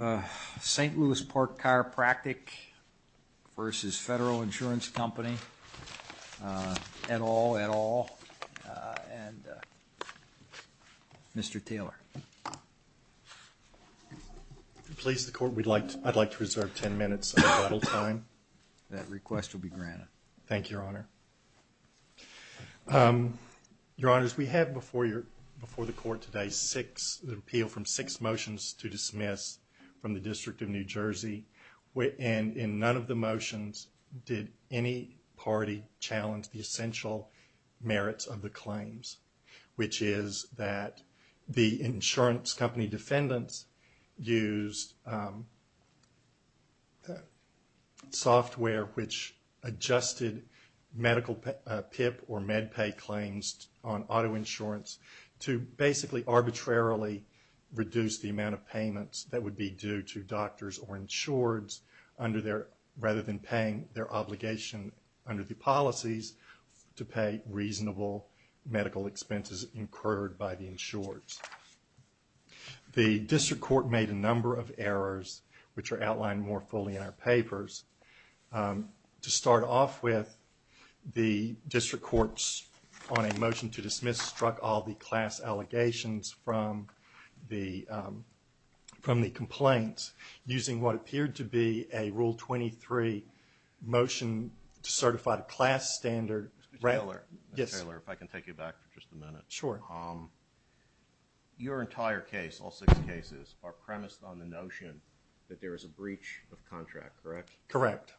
at all, at all. And Mr. Taylor. If you please, the Court, I'd like to reserve 10 minutes of total time. That request will be granted. Thank you, Your Honor. Your Honors, we have before the Court today an appeal from six motions to dismiss. From the District of New Jersey. And in none of the motions did any party challenge the essential merits of the claims. Which is that the insurance company defendants used software which adjusted medical PIP or MedPay claims on auto insurance to basically arbitrarily reduce the amount of payments that would be due to doctors or insureds rather than paying their obligation under the policies to pay reasonable medical expenses incurred by the insureds. The District Court made a number of errors which are outlined more fully in our papers. To start off with, the District Courts on a motion to dismiss struck all the class allegations from the complaints using what appeared to be a Rule 23 motion to certify the class standard. Mr. Taylor. Yes. Mr. Taylor, if I can take you back for just a minute. Sure. Your entire case, all six cases, are premised on the notion that there is a breach of contract, correct? Correct.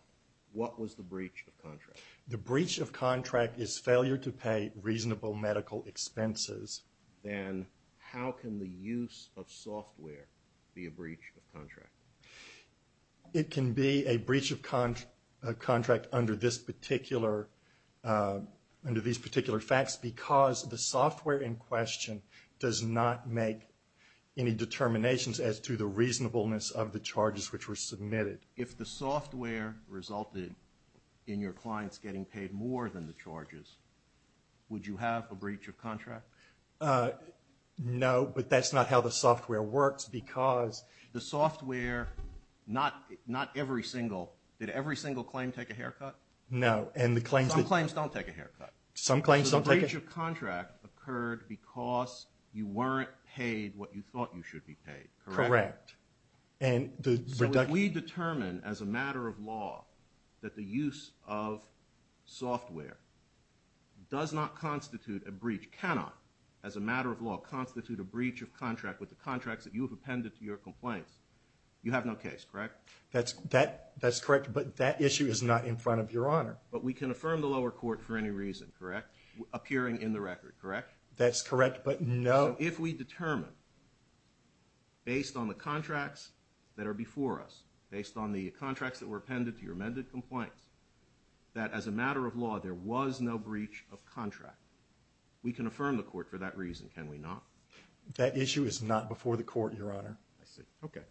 What was the breach of contract? The breach of contract is failure to pay reasonable medical expenses. Then how can the use of software be a breach of contract? It can be a breach of contract under these particular facts because the software in question does not make any determinations as to the reasonableness of the charges which were submitted. If the software resulted in your clients getting paid more than the charges, would you have a breach of contract? No, but that's not how the software works because the software, not every single, did every single claim take a haircut? No. Some claims don't take a haircut. Some claims don't take a haircut. So the breach of contract occurred because you weren't paid what you thought you should be paid, correct? Correct. So if we determine as a matter of law that the use of software does not constitute a breach, cannot, as a matter of law, constitute a breach of contract with the contracts that you have appended to your complaints, you have no case, correct? That's correct, but that issue is not in front of Your Honor. But we can affirm the lower court for any reason, correct? Appearing in the record, correct? That's correct, but no. So if we determine, based on the contracts that are before us, based on the contracts that were appended to your amended complaints, that as a matter of law there was no breach of contract, we can affirm the court for that reason, can we not? That issue is not before the court, Your Honor. I see, okay.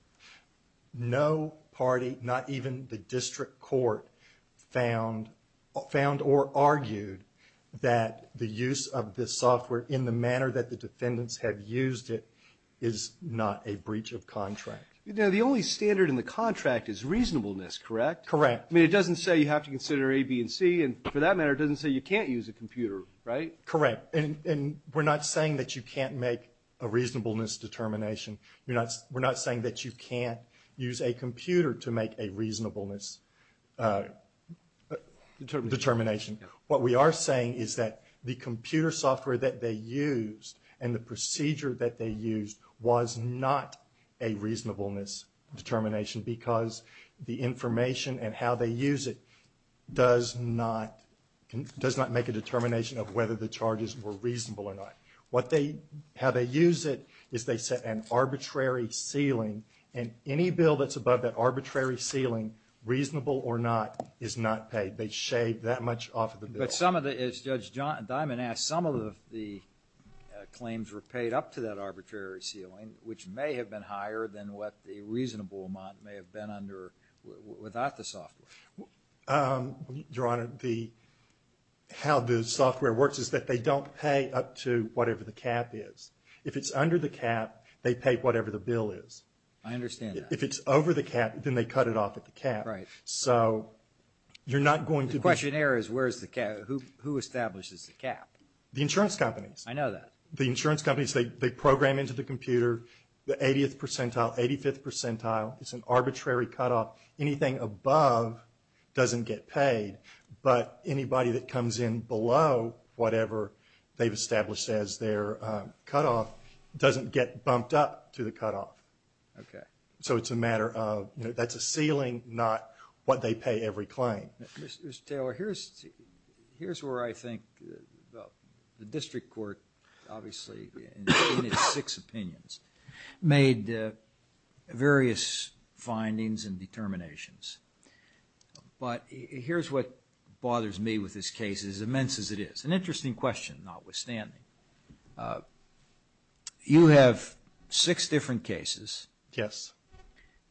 No party, not even the district court, found or argued that the use of this software in the manner that the defendants have used it is not a breach of contract. You know, the only standard in the contract is reasonableness, correct? Correct. I mean, it doesn't say you have to consider A, B, and C, and for that matter it doesn't say you can't use a computer, right? Correct. And we're not saying that you can't make a reasonableness determination. We're not saying that you can't use a computer to make a reasonableness determination. What we are saying is that the computer software that they used and the procedure that they used was not a reasonableness determination because the information and how they use it does not make a determination of whether the charges were reasonable or not. What they, how they use it is they set an arbitrary ceiling and any bill that's above that arbitrary ceiling, reasonable or not, is not paid. They shave that much off of the bill. But some of the, as Judge Diamond asked, some of the claims were paid up to that arbitrary ceiling, which may have been higher than what the reasonable amount may have been under, without the software. Your Honor, the, how the software works is that they don't pay up to whatever the cap is. If it's under the cap, they pay whatever the bill is. I understand that. If it's over the cap, then they cut it off at the cap. Right. So you're not going to be The question here is where's the cap, who establishes the cap? The insurance companies. I know that. The insurance companies, they program into the computer the 80th percentile, 85th percentile. It's an arbitrary cutoff. Anything above doesn't get paid. But anybody that comes in below whatever they've established as their cutoff doesn't get bumped up to the cutoff. Okay. So it's a matter of, you know, that's a ceiling, not what they pay every claim. Mr. Taylor, here's where I think the district court, obviously, in its six opinions, made various findings and determinations. But here's what bothers me with this case, as immense as it is. An interesting question, notwithstanding. You have six different cases. Yes.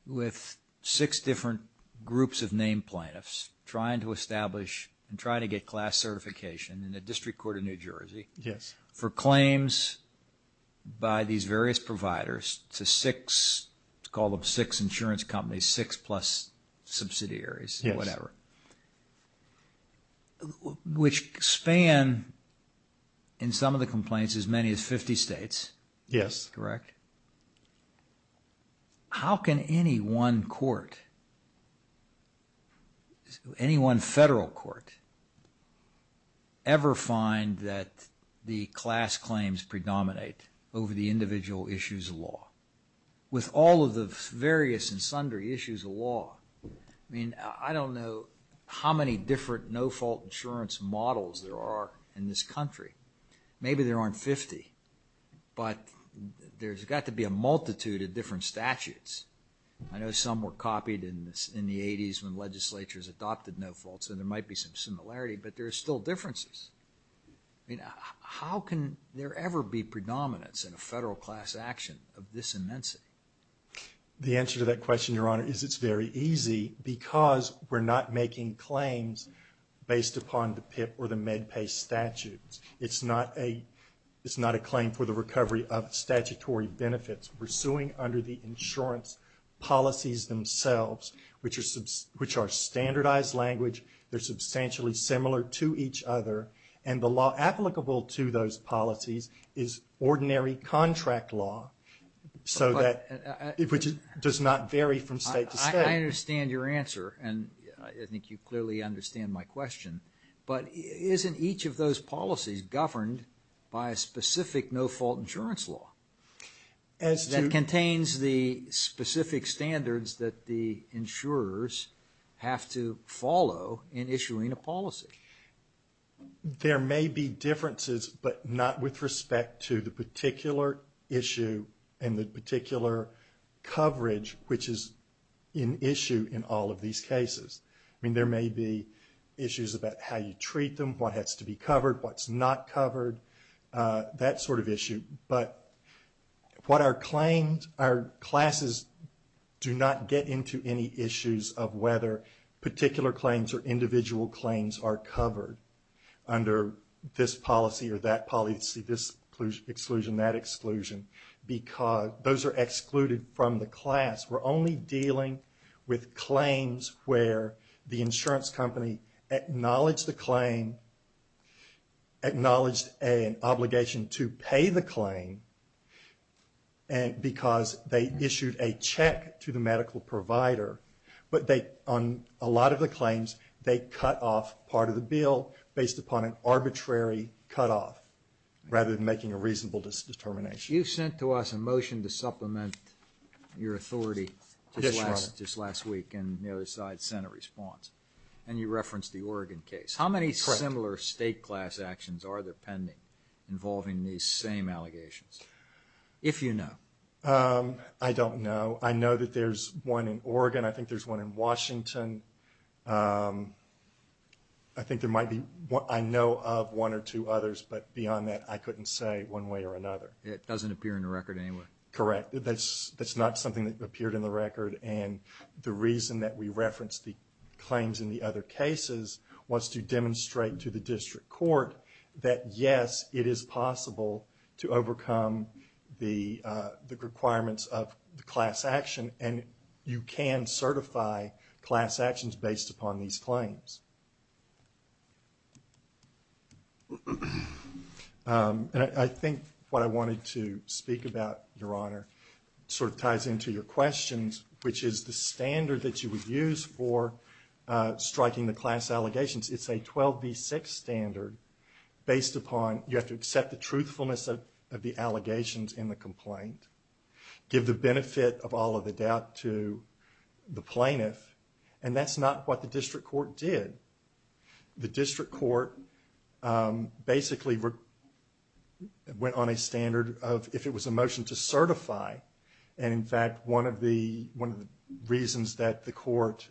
With six different groups of named plaintiffs trying to establish and trying to get class certification in the District Court of New Jersey. Yes. For claims by these various providers to six, call them six insurance companies, six plus subsidiaries, whatever. Yes. Which span, in some of the complaints, as many as 50 states. Yes. Correct? How can any one court, any one federal court, ever find that the class claims predominate over the individual issues of law? With all of the various and sundry issues of law, I mean, I don't know how many different no-fault insurance models there are in this country. Maybe there aren't 50, but there's got to be a multitude of different statutes. I know some were copied in the 80s when legislatures adopted no-faults, and there might be some similarity, but there are still differences. I mean, how can there ever be predominance in a federal class action of this immensity? The answer to that question, Your Honor, is it's very easy because we're not making claims based upon the PIP or the MedPay statutes. It's not a claim for the recovery of statutory benefits. We're suing under the insurance policies themselves, which are standardized language. They're substantially similar to each other, and the law applicable to those policies is ordinary contract law, which does not vary from state to state. I understand your answer, and I think you clearly understand my question. But isn't each of those policies governed by a specific no-fault insurance law that contains the specific standards that the insurers have to follow in issuing a policy? There may be differences, but not with respect to the particular issue and the particular coverage, which is an issue in all of these cases. I mean, there may be issues about how you treat them, what has to be covered, what's not covered, that sort of issue. But what our claims, our classes do not get into any issues of whether particular claims or individual claims are covered under this policy or that policy, this exclusion, that exclusion, because those are excluded from the class. We're only dealing with claims where the insurance company acknowledged the claim, acknowledged an obligation to pay the claim because they issued a check to the medical provider. But on a lot of the claims, they cut off part of the bill based upon an arbitrary cutoff, rather than making a reasonable determination. You sent to us a motion to supplement your authority just last week in the other side's Senate response, and you referenced the Oregon case. How many similar state-class actions are there pending involving these same allegations, if you know? I don't know. I know that there's one in Oregon. I think there's one in Washington. I think there might be – I know of one or two others, but beyond that, I couldn't say one way or another. It doesn't appear in the record anyway? Correct. That's not something that appeared in the record. And the reason that we referenced the claims in the other cases was to demonstrate to the district court that, yes, it is possible to overcome the requirements of the class action, and you can certify class actions based upon these claims. And I think what I wanted to speak about, Your Honor, sort of ties into your questions, which is the standard that you would use for striking the class allegations. It's a 12B6 standard based upon you have to accept the truthfulness of the allegations in the complaint, give the benefit of all of the doubt to the plaintiff. And that's not what the district court did. The district court basically went on a standard of if it was a motion to certify. And in fact, one of the reasons that the court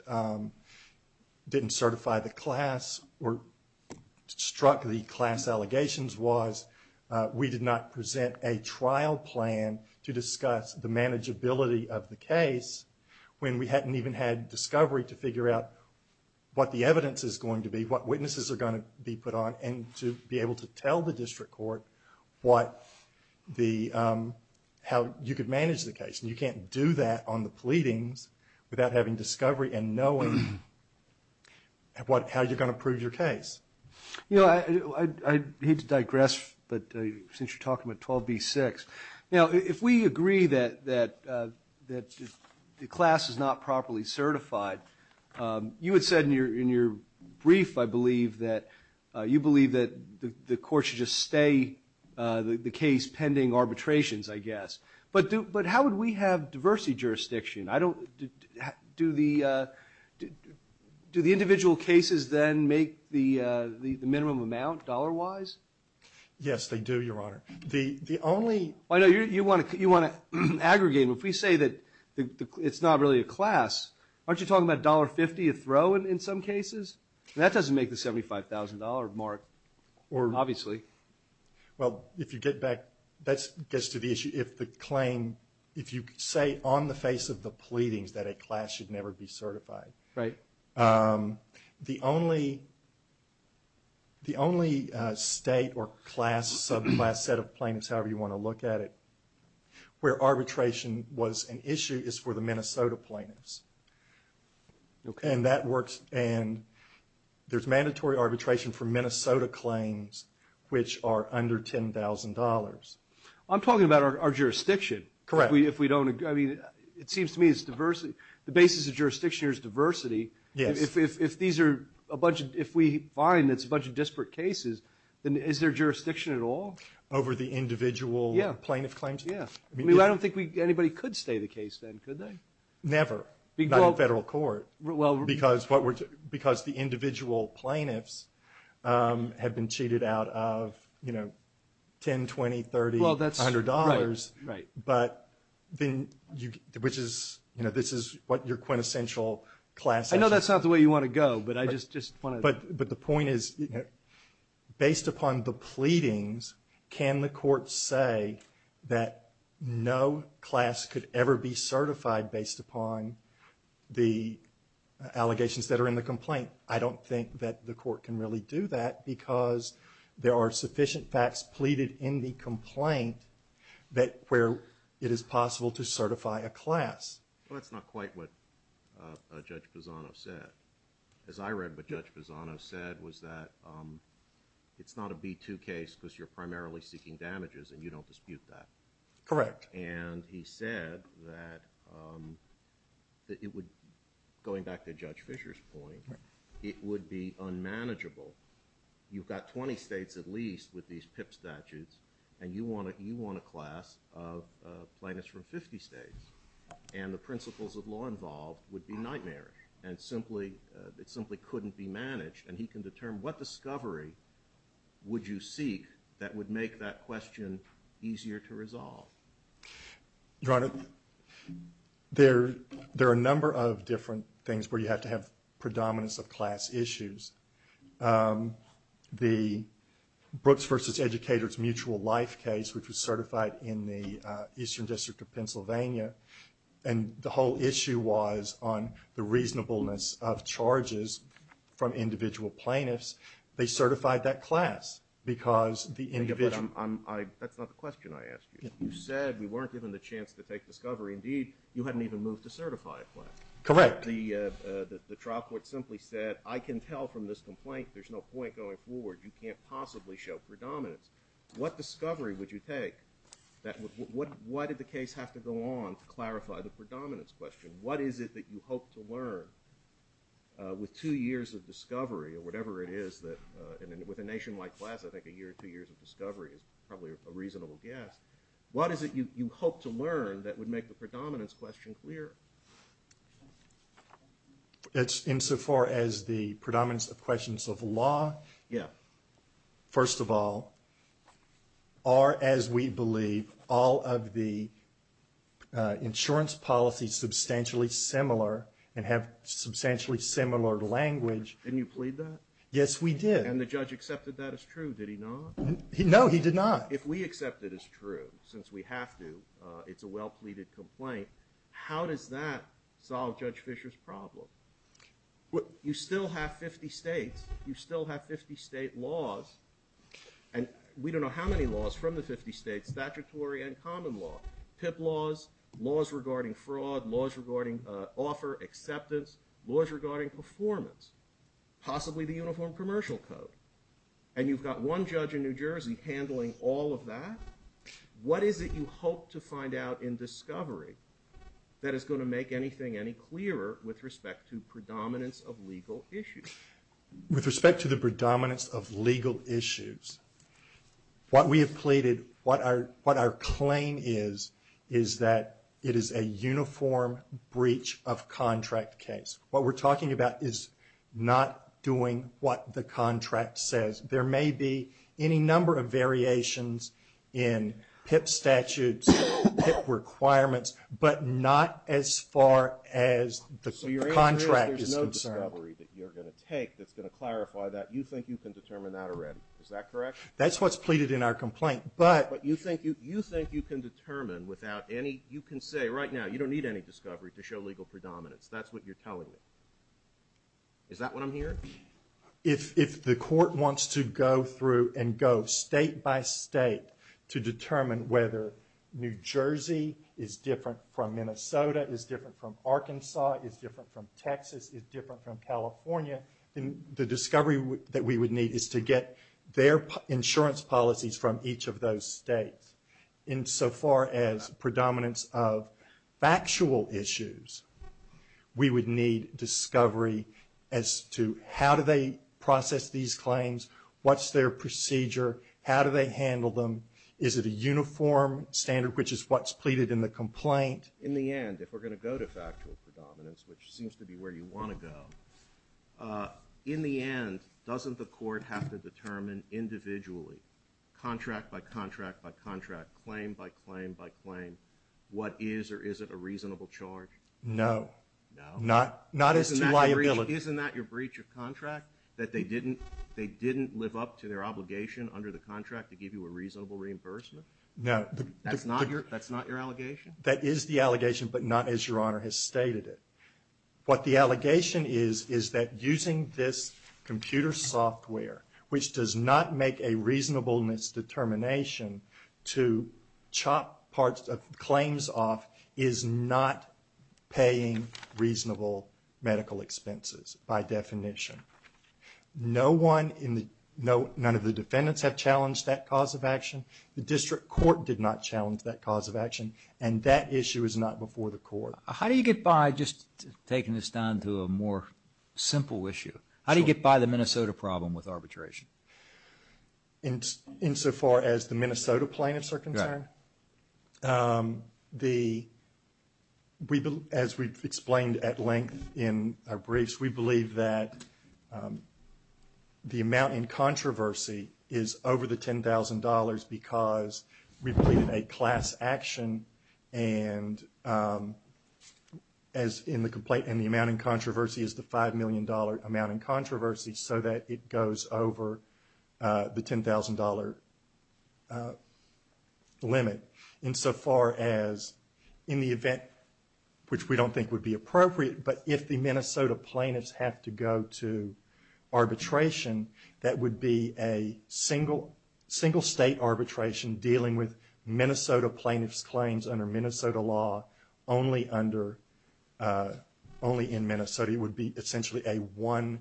didn't certify the class or struck the class allegations was we did not present a trial plan to discuss the manageability of the case when we hadn't even had discovery to figure out what the evidence is going to be, what witnesses are going to be put on, and to be able to tell the district court how you could manage the case. And you can't do that on the pleadings without having discovery and knowing how you're going to prove your case. I hate to digress, but since you're talking about 12B6, if we agree that the class is not properly certified, you had said in your brief, I believe, that you believe that the court should just stay the case pending arbitrations, I guess. But how would we have diversity jurisdiction? Do the individual cases then make the minimum amount dollar-wise? Yes, they do, Your Honor. I know you want to aggregate. If we say that it's not really a class, aren't you talking about $1.50 a throw in some cases? That doesn't make the $75,000 mark, obviously. Well, if you get back, that gets to the issue. If the claim, if you say on the face of the pleadings that a class should never be certified, the only state or class, subclass set of plaintiffs, however you want to look at it, where arbitration was an issue is for the Minnesota plaintiffs. And that works, and there's mandatory arbitration for Minnesota claims, which are under $10,000. I'm talking about our jurisdiction. Correct. If we don't, I mean, it seems to me it's diversity, the basis of jurisdiction here is diversity. Yes. If these are a bunch of, if we find it's a bunch of disparate cases, then is there jurisdiction at all? Over the individual plaintiff claims? Yeah. I mean, I don't think anybody could stay the case then, could they? Never. Not in federal court. Because the individual plaintiffs have been cheated out of, you know, $10, $20, $30, $100. Well, that's right, right. But then, which is, you know, this is what your quintessential class issue is. I know that's not the way you want to go, but I just want to. But the point is, based upon the pleadings, can the court say that no class could ever be certified based upon the allegations that are in the complaint? I don't think that the court can really do that because there are sufficient facts pleaded in the complaint where it is possible to certify a class. Well, that's not quite what Judge Pisano said. As I read what Judge Pisano said was that it's not a B-2 case because you're primarily seeking damages and you don't dispute that. Correct. And he said that it would, going back to Judge Fisher's point, it would be unmanageable. You've got 20 states at least with these PIP statutes, and you want a class of plaintiffs from 50 states. And the principles of law involved would be nightmarish and simply couldn't be managed. And he can determine what discovery would you seek that would make that question easier to resolve. Your Honor, there are a number of different things where you have to have predominance of class issues. The Brooks v. Educators Mutual Life case, which was certified in the Eastern District of Pennsylvania, and the whole issue was on the reasonableness of charges from individual plaintiffs. They certified that class because the individual- But that's not the question I asked you. You said we weren't given the chance to take discovery. Indeed, you hadn't even moved to certify a class. Correct. The trial court simply said, I can tell from this complaint there's no point going forward. You can't possibly show predominance. What discovery would you take? Why did the case have to go on to clarify the predominance question? What is it that you hope to learn with two years of discovery or whatever it is that- and with a nationwide class, I think a year or two years of discovery is probably a reasonable guess. What is it you hope to learn that would make the predominance question clearer? Insofar as the predominance of questions of law- Yeah. First of all, are, as we believe, all of the insurance policies substantially similar and have substantially similar language- Didn't you plead that? Yes, we did. And the judge accepted that as true. Did he not? No, he did not. If we accept it as true, since we have to, it's a well-pleaded complaint, how does that solve Judge Fisher's problem? You still have 50 states. You still have 50 state laws. And we don't know how many laws from the 50 states, statutory and common law. PIP laws, laws regarding fraud, laws regarding offer acceptance, laws regarding performance. Possibly the Uniform Commercial Code. And you've got one judge in New Jersey handling all of that? What is it you hope to find out in discovery that is going to make anything any clearer with respect to predominance of legal issues? With respect to the predominance of legal issues, what we have pleaded, what our claim is, is that it is a uniform breach of contract case. What we're talking about is not doing what the contract says. There may be any number of variations in PIP statutes, PIP requirements, but not as far as the contract is concerned. So your answer is there's no discovery that you're going to take that's going to clarify that. You think you can determine that already. Is that correct? That's what's pleaded in our complaint. But you think you can determine without any, you can say right now, you don't need any discovery to show legal predominance. That's what you're telling me. Is that what I'm hearing? If the court wants to go through and go state by state to determine whether New Jersey is different from Minnesota, is different from Arkansas, is different from Texas, is different from California, then the discovery that we would need is to get their insurance policies from each of those states. In so far as predominance of factual issues, we would need discovery as to how do they process these claims? What's their procedure? How do they handle them? Is it a uniform standard, which is what's pleaded in the complaint? In the end, if we're going to go to factual predominance, which seems to be where you want to go, in the end, doesn't the court have to determine individually, contract by contract by contract, claim by claim by claim, what is or isn't a reasonable charge? No. Not as to liability. Isn't that your breach of contract, that they didn't live up to their obligation under the contract to give you a reasonable reimbursement? No. That's not your allegation? That is the allegation, but not as Your Honor has stated it. What the allegation is, is that using this computer software, which does not make a reasonableness determination to chop claims off, is not paying reasonable medical expenses by definition. None of the defendants have challenged that cause of action. The district court did not challenge that cause of action, and that issue is not before the court. How do you get by just taking this down to a more simple issue? How do you get by the Minnesota problem with arbitration? Insofar as the Minnesota plaintiffs are concerned? Right. As we've explained at length in our briefs, we believe that the amount in controversy is over the $10,000 because we believe it a class action, and the amount in controversy is the $5 million amount in controversy so that it goes over the $10,000 limit. Insofar as in the event, which we don't think would be appropriate, but if the Minnesota plaintiffs have to go to arbitration, that would be a single state arbitration dealing with Minnesota plaintiffs' claims under Minnesota law, only in Minnesota. It would be essentially a one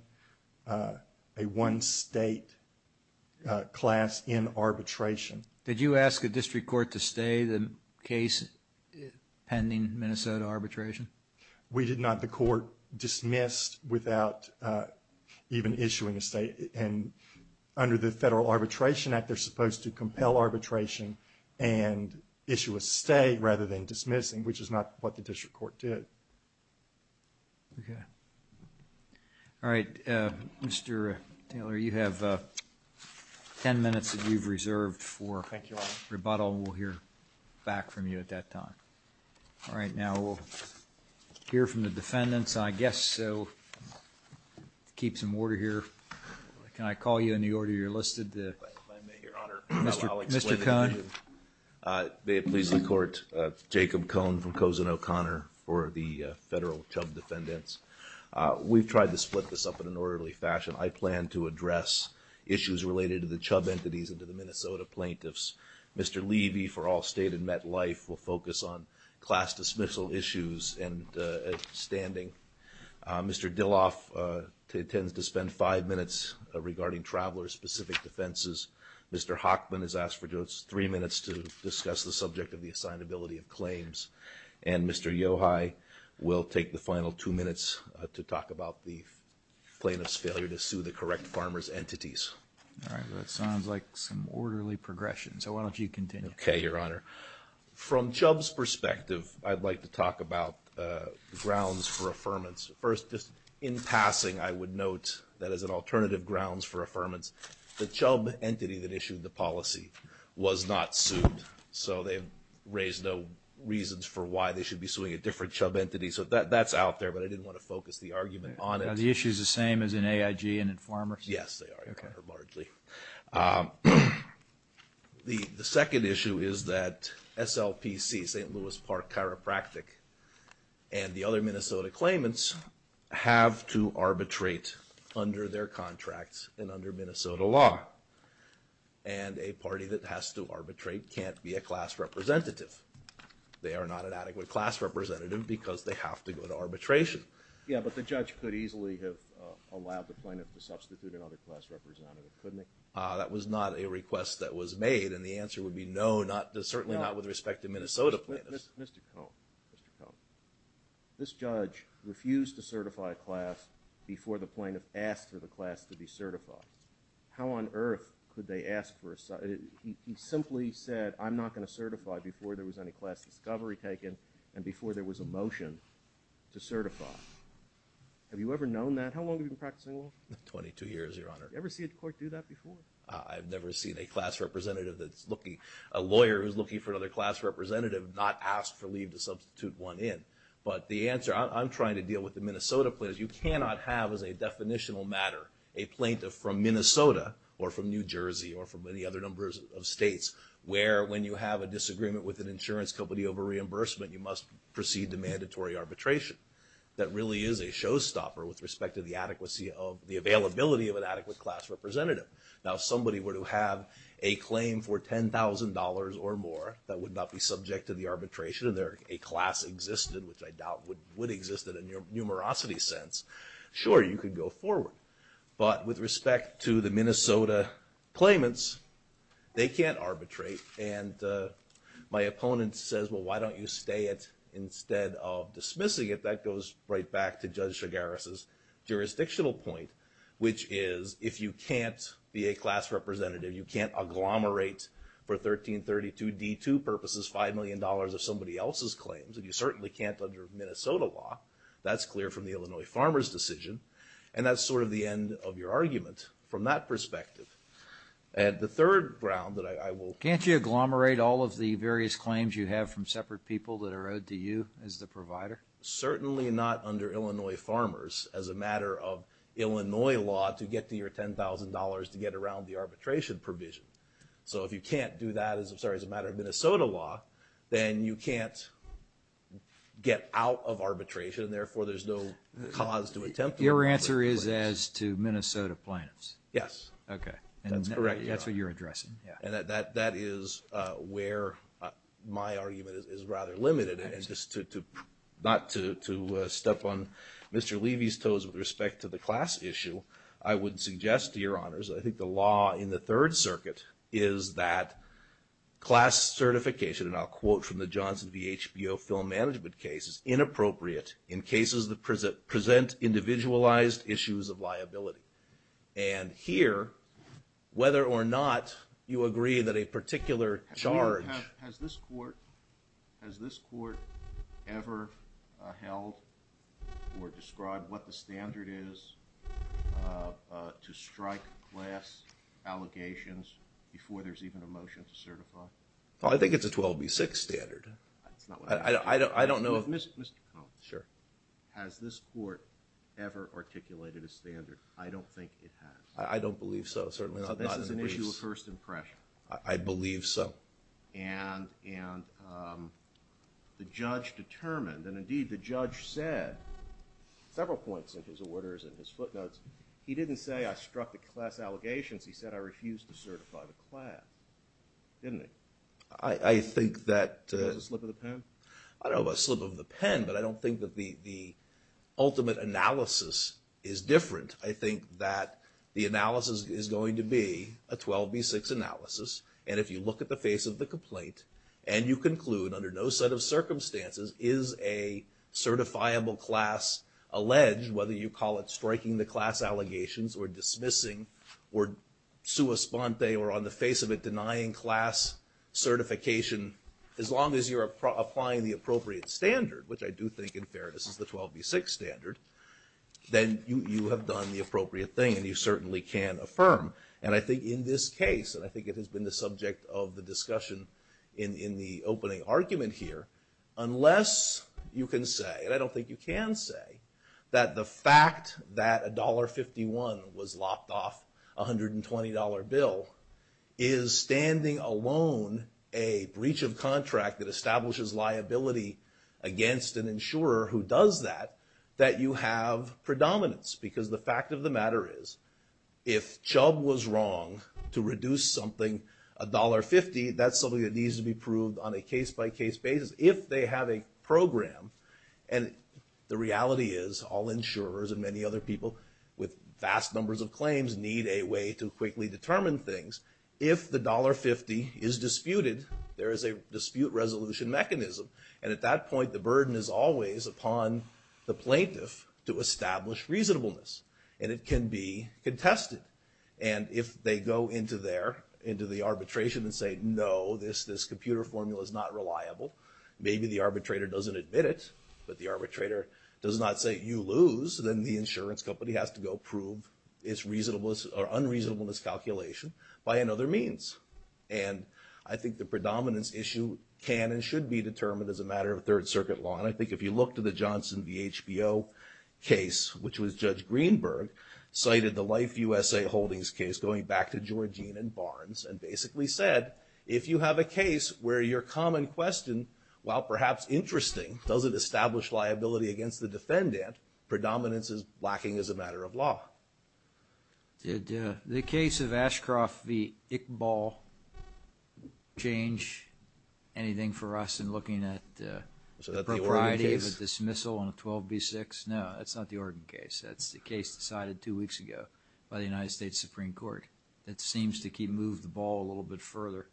state class in arbitration. Did you ask a district court to stay the case pending Minnesota arbitration? We did not. The court dismissed without even issuing a state. Under the Federal Arbitration Act, they're supposed to compel arbitration and issue a state rather than dismissing, which is not what the district court did. Okay. All right. Mr. Taylor, you have 10 minutes that you've reserved for rebuttal, and we'll hear back from you at that time. All right. Now we'll hear from the defendants, I guess, so keep some order here. Can I call you in the order you're listed? If I may, Your Honor. I'll explain it to you. Mr. Cohn. May it please the Court, Jacob Cohn from Cozen O'Connor for the federal Chubb defendants. We've tried to split this up in an orderly fashion. I plan to address issues related to the Chubb entities and to the Minnesota plaintiffs. Mr. Levy, for all stated met life, will focus on class dismissal issues and standing. Mr. Dilloff intends to spend five minutes regarding traveler-specific defenses. Mr. Hochman has asked for just three minutes to discuss the subject of the assignability of claims. And Mr. Yohei will take the final two minutes to talk about the plaintiff's failure to sue the correct farmer's entities. All right. That sounds like some orderly progression, so why don't you continue? Okay, Your Honor. From Chubb's perspective, I'd like to talk about grounds for affirmance. First, just in passing, I would note that as an alternative grounds for affirmance, the Chubb entity that issued the policy was not sued, so they've raised no reasons for why they should be suing a different Chubb entity. So that's out there, but I didn't want to focus the argument on it. Are the issues the same as in AIG and in farmers? Yes, they are, Your Honor, largely. The second issue is that SLPC, St. Louis Park Chiropractic, and the other Minnesota claimants have to arbitrate under their contracts and under Minnesota law. And a party that has to arbitrate can't be a class representative. They are not an adequate class representative because they have to go to arbitration. Yeah, but the judge could easily have allowed the plaintiff to substitute another class representative, couldn't he? That was not a request that was made, and the answer would be no, certainly not with respect to Minnesota plaintiffs. Mr. Cone, Mr. Cone, this judge refused to certify a class before the plaintiff asked for the class to be certified. How on earth could they ask for a... He simply said, I'm not going to certify before there was any class discovery taken and before there was a motion to certify. Have you ever known that? How long have you been practicing law? 22 years, Your Honor. Have you ever seen a court do that before? I've never seen a class representative that's looking, a lawyer who's looking for another class representative not ask for leave to substitute one in. But the answer, I'm trying to deal with the Minnesota plaintiffs. You cannot have as a definitional matter a plaintiff from Minnesota or from New Jersey or from any other number of states where when you have a disagreement with an insurance company over reimbursement, you must proceed to mandatory arbitration. That really is a showstopper with respect to the adequacy of the availability of an adequate class representative. Now, if somebody were to have a claim for $10,000 or more that would not be subject to the arbitration and a class existed, which I doubt would exist in a numerosity sense, sure, you could go forward. But with respect to the Minnesota claimants, they can't arbitrate. And my opponent says, well, why don't you stay it instead of dismissing it? That goes right back to Judge Chigares' jurisdictional point, which is if you can't be a class representative, you can't agglomerate for 1332D2 purposes $5 million of somebody else's claims, and you certainly can't under Minnesota law. That's clear from the Illinois Farmers' decision. And that's sort of the end of your argument from that perspective. And the third ground that I will... Can't you agglomerate all of the various claims you have from separate people that are owed to you as the provider? Certainly not under Illinois Farmers as a matter of Illinois law to get to your $10,000 to get around the arbitration provision. So if you can't do that as a matter of Minnesota law, then you can't get out of arbitration, therefore there's no cause to attempt... Your answer is as to Minnesota plaintiffs? Yes. Okay. That's what you're addressing. And that is where my argument is rather limited. Not to step on Mr. Levy's toes with respect to the class issue, I would suggest to your honors, I think the law in the Third Circuit is that class certification, and I'll quote from the Johnson v. HBO film management case, is inappropriate in cases that present individualized issues of liability. And here, whether or not you agree that a particular charge... Has this court ever held or described what the standard is to strike class allegations before there's even a motion to certify? I think it's a 12B6 standard. I don't know if... Mr. Cohn. Sure. Has this court ever articulated a standard? I don't think it has. I don't believe so. This is an issue of first impression. I believe so. And the judge determined, and indeed the judge said several points in his orders and his footnotes, he didn't say I struck the class allegations, he said I refused to certify the class. Didn't he? I think that... Was it a slip of the pen? I don't know about a slip of the pen, but I don't think that the ultimate analysis is different. I think that the analysis is going to be a 12B6 analysis, and if you look at the face of the complaint and you conclude under no set of circumstances is a certifiable class alleged, whether you call it striking the class allegations or dismissing or sua sponte or on the face of it denying class certification, as long as you're applying the appropriate standard, which I do think in fairness is the 12B6 standard, then you have done the appropriate thing and you certainly can affirm. And I think in this case, and I think it has been the subject of the discussion in the opening argument here, unless you can say, and I don't think you can say, that the fact that $1.51 was lopped off a $120 bill is standing alone a breach of contract that establishes liability against an insurer who does that, that you have predominance. Because the fact of the matter is if Chubb was wrong to reduce something $1.50, that's something that needs to be proved on a case-by-case basis. If they have a program, and the reality is all insurers and many other people with vast numbers of claims need a way to quickly determine things, if the $1.50 is disputed, there is a dispute resolution mechanism, and at that point the burden is always upon the plaintiff to establish reasonableness. And it can be contested. And if they go into there, into the arbitration and say, no, this computer formula is not reliable, maybe the arbitrator doesn't admit it, but the arbitrator does not say, you lose, then the insurance company has to go prove its reasonableness or unreasonableness calculation by another means. And I think the predominance issue can and should be determined as a matter of Third Circuit law, and I think if you look to the Johnson v. HBO case, which was Judge Greenberg, cited the Life USA Holdings case, going back to Georgine and Barnes, and basically said, if you have a case where your common question, while perhaps interesting, doesn't establish liability against the defendant, predominance is lacking as a matter of law. Did the case of Ashcroft v. Iqbal change anything for us in looking at the propriety of a dismissal on a 12b6? No, that's not the Oregon case. That's the case decided two weeks ago by the United States Supreme Court that seems to keep, move the ball a little bit further.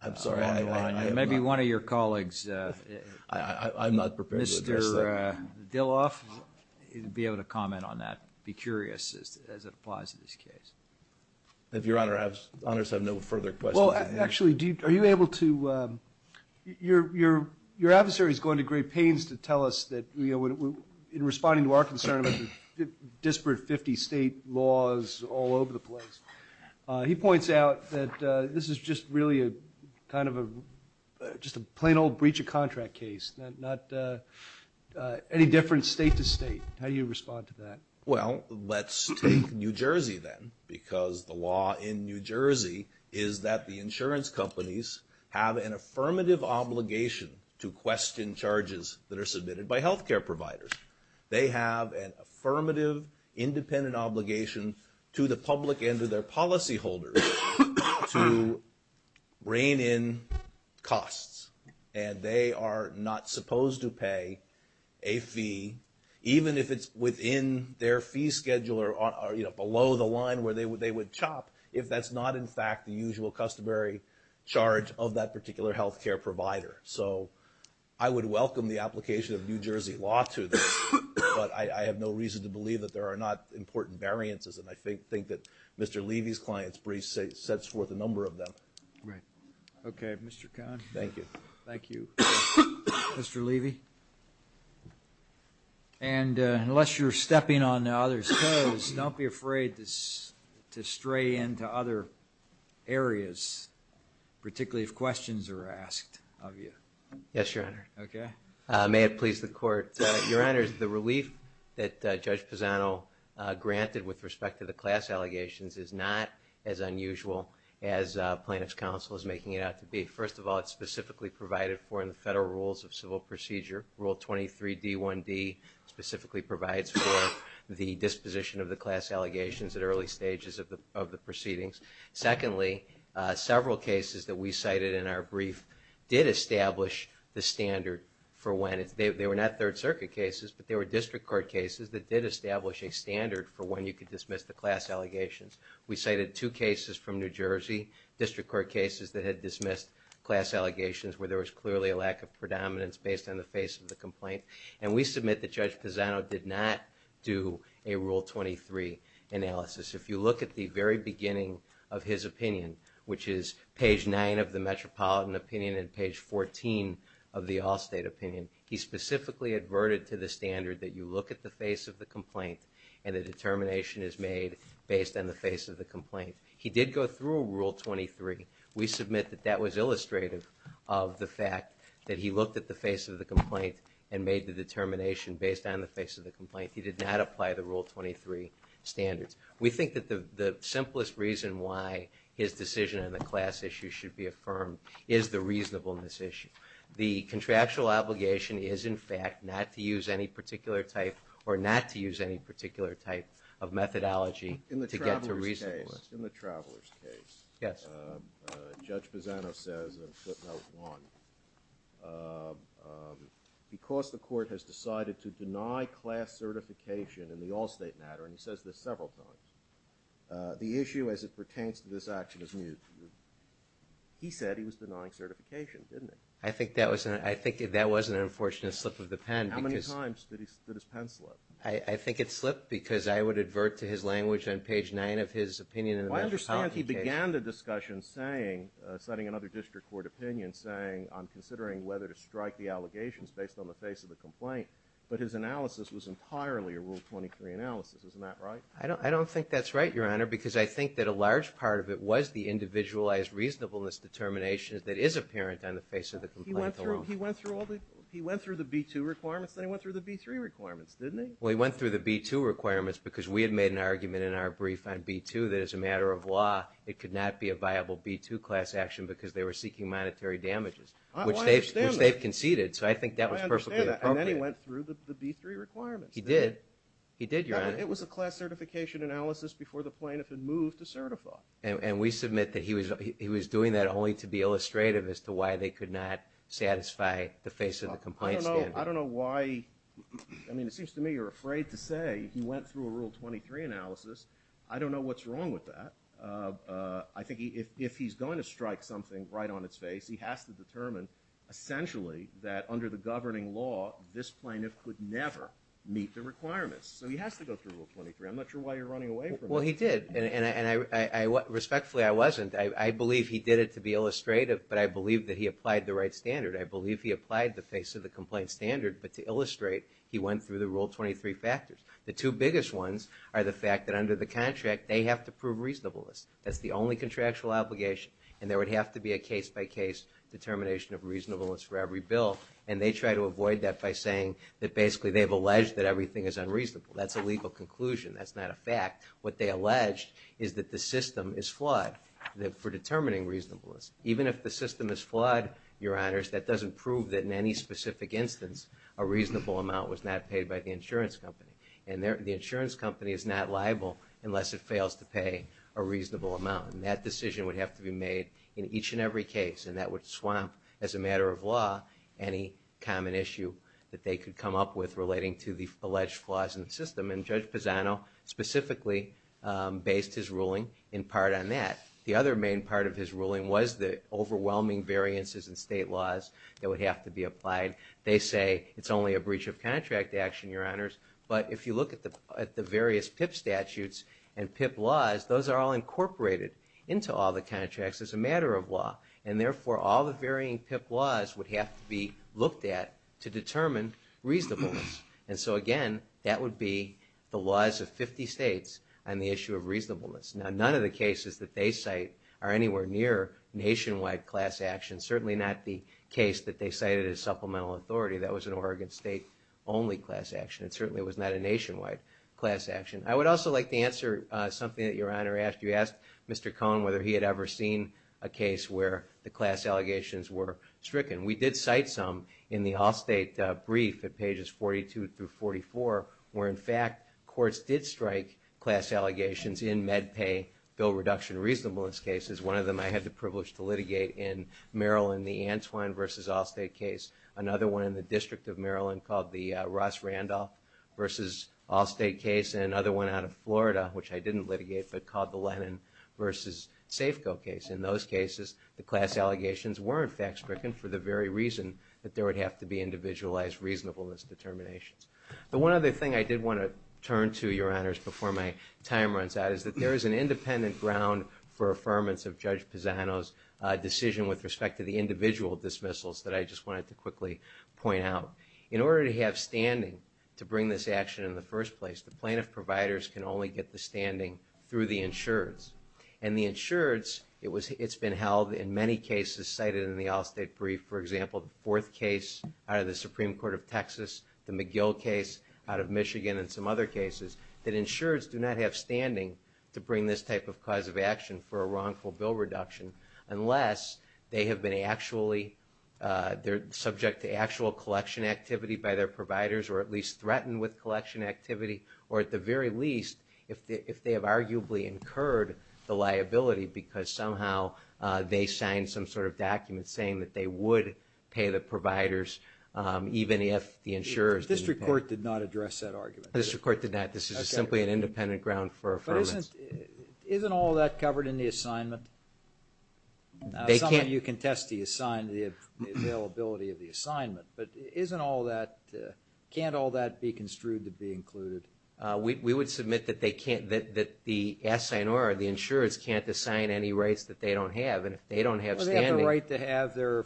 I'm sorry. Maybe one of your colleagues, I'm not prepared. Mr. Dilloff, you'd be able to comment on that, be curious as it applies to this case. If your honors have no further questions. Well, actually, are you able to, your adversary is going to great pains to tell us that, in responding to our concern about the disparate 50 state laws all over the place, he points out that this is just really kind of a, just a plain old breach of contract case, not any different state to state. How do you respond to that? Well, let's take New Jersey then, because the law in New Jersey is that the insurance companies have an affirmative obligation to question charges that are submitted by healthcare providers. They have an affirmative independent obligation to the public and to their policy holders to rein in costs. And they are not supposed to pay a fee, even if it's within their fee schedule or below the line where they would chop, if that's not in fact the usual customary charge of that particular healthcare provider. So I would welcome the application of New Jersey law to this, but I have no reason to believe that there are not important variances, and I think that Mr. Levy's client's breach sets forth a number of them. Right. Okay, Mr. Kahn. Thank you. Thank you, Mr. Levy. And unless you're stepping on others' toes, don't be afraid to stray into other areas, particularly if questions are asked of you. Yes, Your Honor. Okay. May it please the Court. Your Honors, the relief that Judge Pisano granted with respect to the class allegations is not as unusual as Plaintiff's Counsel is making it out to be. First of all, it's specifically provided for in the Federal Rules of Civil Procedure. Rule 23d1d specifically provides for the disposition of the class allegations at early stages of the proceedings. Secondly, several cases that we cited in our brief did establish the standard for when it's... They were not Third Circuit cases, but they were District Court cases that did establish a standard for when you could dismiss the class allegations. We cited two cases from New Jersey, District Court cases that had dismissed class allegations where there was clearly a lack of predominance based on the face of the complaint, and we submit that Judge Pisano did not do a Rule 23 analysis. If you look at the very beginning of his opinion, which is page 9 of the Metropolitan Opinion and page 14 of the Allstate Opinion, he specifically adverted to the standard that you look at the face of the complaint and the determination is made based on the face of the complaint. He did go through Rule 23. We submit that that was illustrative of the fact that he looked at the face of the complaint and made the determination based on the face of the complaint. He did not apply the Rule 23 standards. We think that the simplest reason why his decision on the class issue should be affirmed is the reasonableness issue. The contractual obligation is, in fact, not to use any particular type or not to use any particular type of methodology to get to reasonableness. In the Traveler's case, Judge Pisano says in footnote 1, because the court has decided to deny class certification in the Allstate matter, and he says this several times, the issue as it pertains to this action is new. He said he was denying certification, didn't he? I think that was an unfortunate slip of the pen. How many times did his pen slip? I think it slipped because I would advert to his language on page 9 of his opinion in the Metropolitan case. I understand he began the discussion citing another district court opinion saying I'm considering whether to strike the allegations based on the face of the complaint, but his analysis was entirely a Rule 23 analysis. Isn't that right? I don't think that's right, Your Honor, because I think that a large part of it was the individualized reasonableness determination that is apparent on the face of the complaint alone. He went through the B-2 requirements, then he went through the B-3 requirements, didn't he? Well, he went through the B-2 requirements because we had made an argument in our brief on B-2 that as a matter of law, it could not be a viable B-2 class action because they were seeking monetary damages, which they've conceded, so I think that was perfectly appropriate. And then he went through the B-3 requirements, didn't he? He did. He did, Your Honor. It was a class certification analysis before the plaintiff had moved to certify. And we submit that he was doing that only to be illustrative as to why they could not satisfy the face of the complaint standard. I don't know why... I mean, it seems to me you're afraid to say he went through a Rule 23 analysis. I don't know what's wrong with that. I think if he's going to strike something right on its face, he has to determine, essentially, that under the governing law, this plaintiff could never meet the requirements. So he has to go through Rule 23. I'm not sure why you're running away from it. Well, he did, and respectfully, I wasn't. I believe he did it to be illustrative, but I believe that he applied the right standard. I believe he applied the face of the complaint standard, but to illustrate, he went through the Rule 23 factors. The two biggest ones are the fact that under the contract, they have to prove reasonableness. That's the only contractual obligation, and there would have to be a case-by-case determination of reasonableness for every bill, and they try to avoid that by saying that basically they've alleged that everything is unreasonable. That's a legal conclusion. That's not a fact. What they alleged is that the system is flawed for determining reasonableness. Even if the system is flawed, Your Honors, that doesn't prove that in any specific instance a reasonable amount was not paid by the insurance company, and the insurance company is not liable unless it fails to pay a reasonable amount, and that decision would have to be made in each and every case, and that would swamp, as a matter of law, any common issue that they could come up with relating to the alleged flaws in the system, and Judge Pisano specifically based his ruling in part on that. The other main part of his ruling was the overwhelming variances in state laws that would have to be applied. They say it's only a breach of contract action, Your Honors, but if you look at the various PIP statutes and PIP laws, those are all incorporated into all the contracts as a matter of law, and therefore, all the varying PIP laws would have to be looked at to determine reasonableness, and so, again, that would be the laws of 50 states on the issue of reasonableness. Now, none of the cases that they cite are anywhere near nationwide class action, certainly not the case that they cited as supplemental authority. That was an Oregon State-only class action. It certainly was not a nationwide class action. I would also like to answer something that Your Honor asked. You asked Mr. Cohen whether he had ever seen a case where the class allegations were stricken. We did cite some in the Allstate brief at pages 42 through 44, where, in fact, courts did strike class allegations in MedPay bill reduction reasonableness cases. One of them I had the privilege to litigate in Maryland, the Antwine v. Allstate case, another one in the District of Maryland called the Ross Randolph v. Allstate case, and another one out of Florida, which I didn't litigate, but called the Lennon v. Safeco case. In those cases, the class allegations were, in fact, stricken for the very reason that there would have to be individualized reasonableness determinations. The one other thing I did want to turn to, Your Honors, before my time runs out, is that there is an independent ground for affirmance of Judge Pisano's decision with respect to the individual dismissals that I just wanted to quickly point out. In order to have standing to bring this action in the first place, the plaintiff providers can only get the standing through the insureds. And the insureds, it's been held in many cases cited in the Allstate brief, for example, the fourth case out of the Supreme Court of Texas, the McGill case out of Michigan, and some other cases, that insureds do not have standing to bring this type of cause of action for a wrongful bill reduction unless they have been actually... they're subject to actual collection activity by their providers or at least threatened with collection activity, or at the very least, if they have arguably incurred the liability because somehow they signed some sort of document saying that they would pay the providers even if the insurers didn't pay. But this report did not address that argument. This report did not. This is simply an independent ground for affirmance. But isn't all that covered in the assignment? Some of you contest the availability of the assignment, but isn't all that... can't all that be construed to be included? We would submit that they can't... that the assignor or the insureds can't assign any rights that they don't have. And if they don't have standing... Well, they have the right to have their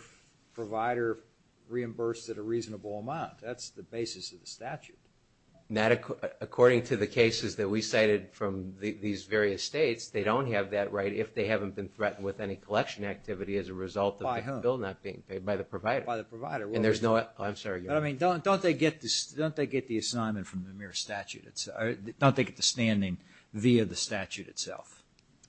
provider reimbursed at a reasonable amount. That's the basis of the statute. According to the cases that we cited from these various states, they don't have that right if they haven't been threatened with any collection activity as a result of the bill not being paid by the provider. And there's no... Oh, I'm sorry. Don't they get the assignment from the mere statute? Don't they get the standing via the statute itself?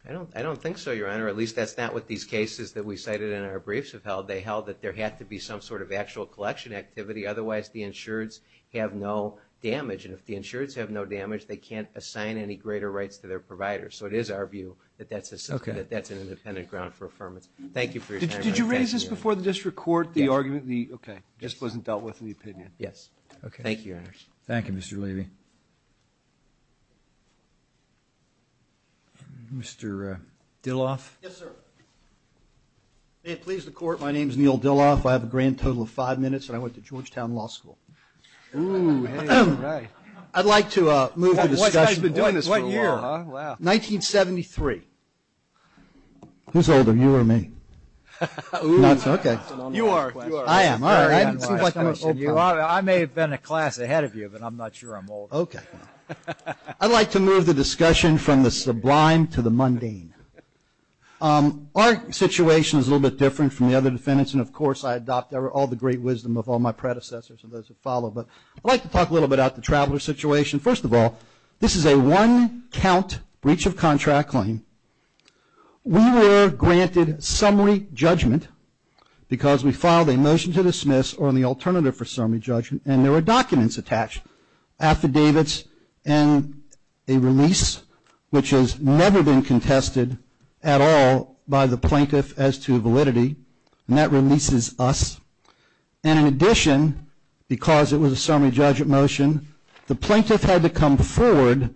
I don't think so, Your Honor. At least that's not what these cases that we cited in our briefs have held. They held that there had to be some sort of actual collection activity. Otherwise, the insureds have no damage. And if the insureds have no damage, they can't assign any greater rights to their providers. So it is our view that that's an independent ground for affirmance. Thank you for your time, Your Honor. Did you raise this before the district court, the argument? Yes. Okay. It just wasn't dealt with in the opinion? Yes. Okay. Thank you, Your Honor. Thank you, Mr. Levy. Mr. Dilloff? Yes, sir. May it please the court, my name is Neil Dilloff. I have a grand total of five minutes, and I went to Georgetown Law School. Ooh, hey, all right. I'd like to move the discussion... What year, huh? 1973. Who's older, you or me? Ooh. Okay. You are. I am, all right. I may have been a class ahead of you, but I'm not sure I'm older. Okay. I'd like to move the discussion from the sublime to the mundane. Our situation is a little bit different from the other defendants, and of course I adopt all the great wisdom of all my predecessors and those who follow. But I'd like to talk a little bit about the traveler situation. First of all, this is a one-count breach of contract claim. We were granted summary judgment because we filed a motion to dismiss or the alternative for summary judgment, and there were documents attached, affidavits and a release, which has never been contested at all by the plaintiff as to validity, and that releases us. And in addition, because it was a summary judgment motion, the plaintiff had to come forward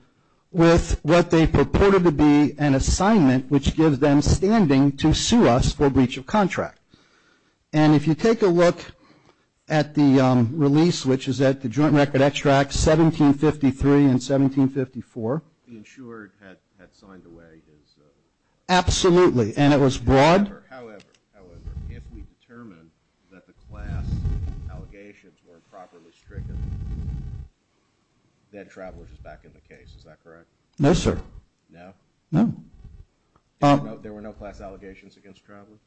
with what they purported to be an assignment, which gives them standing to sue us for breach of contract. And if you take a look at the release, which is at the joint record extract, 1753 and 1754. The insured had signed away his. Absolutely, and it was broad. However, if we determine that the class allegations were improperly stricken, then Travelers is back in the case, is that correct? No, sir. No? No. There were no class allegations against Travelers?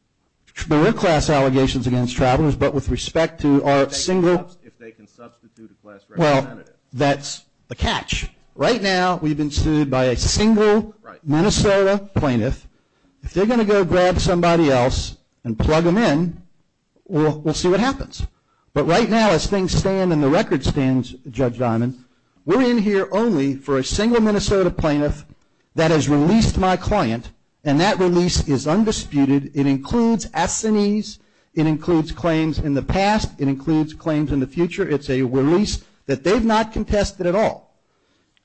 There were class allegations against Travelers, but with respect to our single... If they can substitute a class representative. Well, that's the catch. Right now we've been sued by a single Minnesota plaintiff. If they're going to go grab somebody else and plug them in, we'll see what happens. But right now, as things stand and the record stands, Judge Dimon, we're in here only for a single Minnesota plaintiff that has released my client, and that release is undisputed. It includes S&Es. It includes claims in the past. It includes claims in the future. It's a release that they've not contested at all.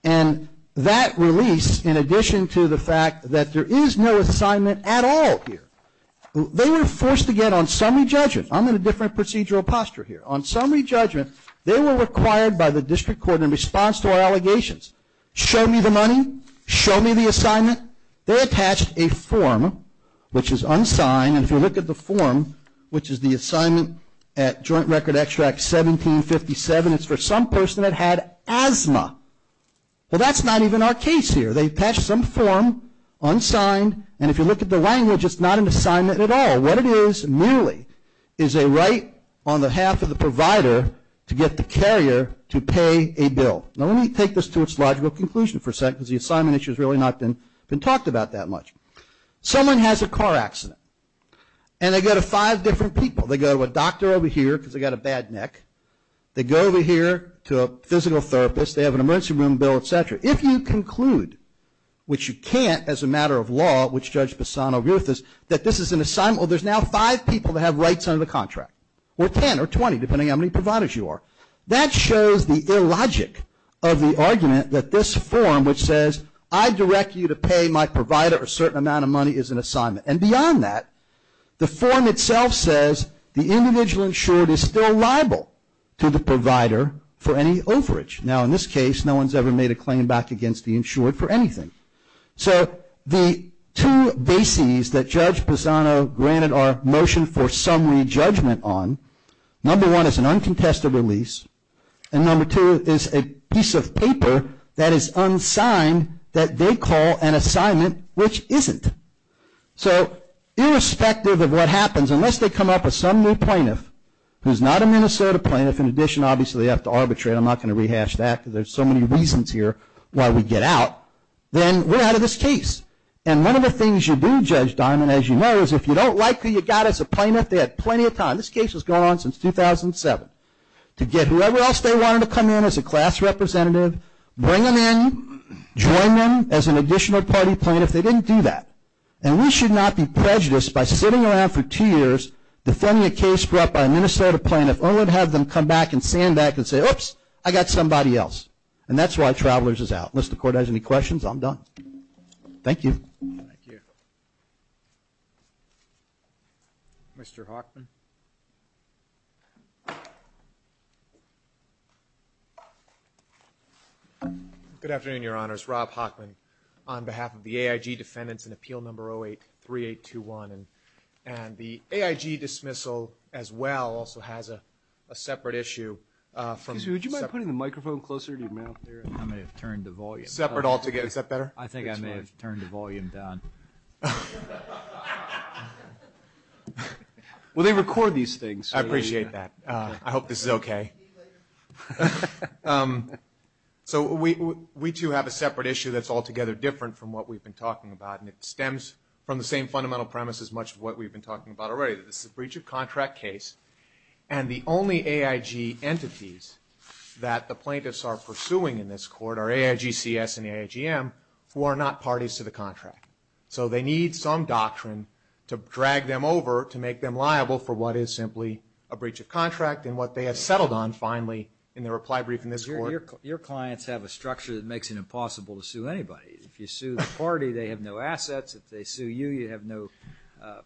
And that release, in addition to the fact that there is no assignment at all here, they were forced to get on summary judgment. I'm in a different procedural posture here. On summary judgment, they were required by the district court in response to our allegations, show me the money, show me the assignment. They attached a form, which is unsigned. And if you look at the form, which is the assignment at Joint Record Extract 1757, it's for some person that had asthma. Well, that's not even our case here. They attached some form, unsigned, and if you look at the language, it's not an assignment at all. What it is merely is a right on the half of the provider to get the carrier to pay a bill. Now, let me take this to its logical conclusion for a second, because the assignment issue has really not been talked about that much. Someone has a car accident, and they go to five different people. They go to a doctor over here, because they've got a bad neck. They go over here to a physical therapist. They have an emergency room bill, et cetera. If you conclude, which you can't as a matter of law, which Judge Bassano agrees with us, that this is an assignment, well, there's now five people that have rights under the contract, or 10 or 20, depending on how many providers you are. That shows the illogic of the argument that this form, which says, I direct you to pay my provider a certain amount of money, is an assignment. And beyond that, the form itself says the individual insured is still liable to the provider for any overage. Now, in this case, no one's ever made a claim back against the insured for anything. So the two bases that Judge Bassano granted our motion for summary judgment on, number one is an uncontested release, and number two is a piece of paper that is unsigned that they call an assignment which isn't. So irrespective of what happens, unless they come up with some new plaintiff, who's not a Minnesota plaintiff, in addition, obviously, they have to arbitrate. I'm not going to rehash that because there's so many reasons here why we get out. Then we're out of this case. And one of the things you do, Judge Diamond, as you know, is if you don't like who you got as a plaintiff, they had plenty of time. This case has gone on since 2007. To get whoever else they wanted to come in as a class representative, bring them in, join them as an additional party plaintiff, they didn't do that. And we should not be prejudiced by sitting around for two years defending a case brought by a Minnesota plaintiff only to have them come back and stand back and say, oops, I got somebody else. And that's why Travelers is out. Unless the Court has any questions, I'm done. Thank you. Thank you. Mr. Hoffman. Good afternoon, Your Honors. Rob Hoffman on behalf of the AIG defendants in Appeal Number 083821. And the AIG dismissal as well also has a separate issue. Excuse me, would you mind putting the microphone closer to your mouth there? I may have turned the volume up. Separate altogether. Is that better? I think I may have turned the volume down. Well, they record these things. I appreciate that. I hope this is okay. So we, too, have a separate issue that's altogether different from what we've been talking about, and it stems from the same fundamental premise as much of what we've been talking about already. This is a breach of contract case, and the only AIG entities that the plaintiffs are pursuing in this court are AIG CS and AIG M, who are not parties to the contract. So they need some doctrine to drag them over to make them liable for what is simply a breach of contract and what they have settled on finally in their reply brief in this court. Your clients have a structure that makes it impossible to sue anybody. If you sue the party, they have no assets. If they sue you, you have no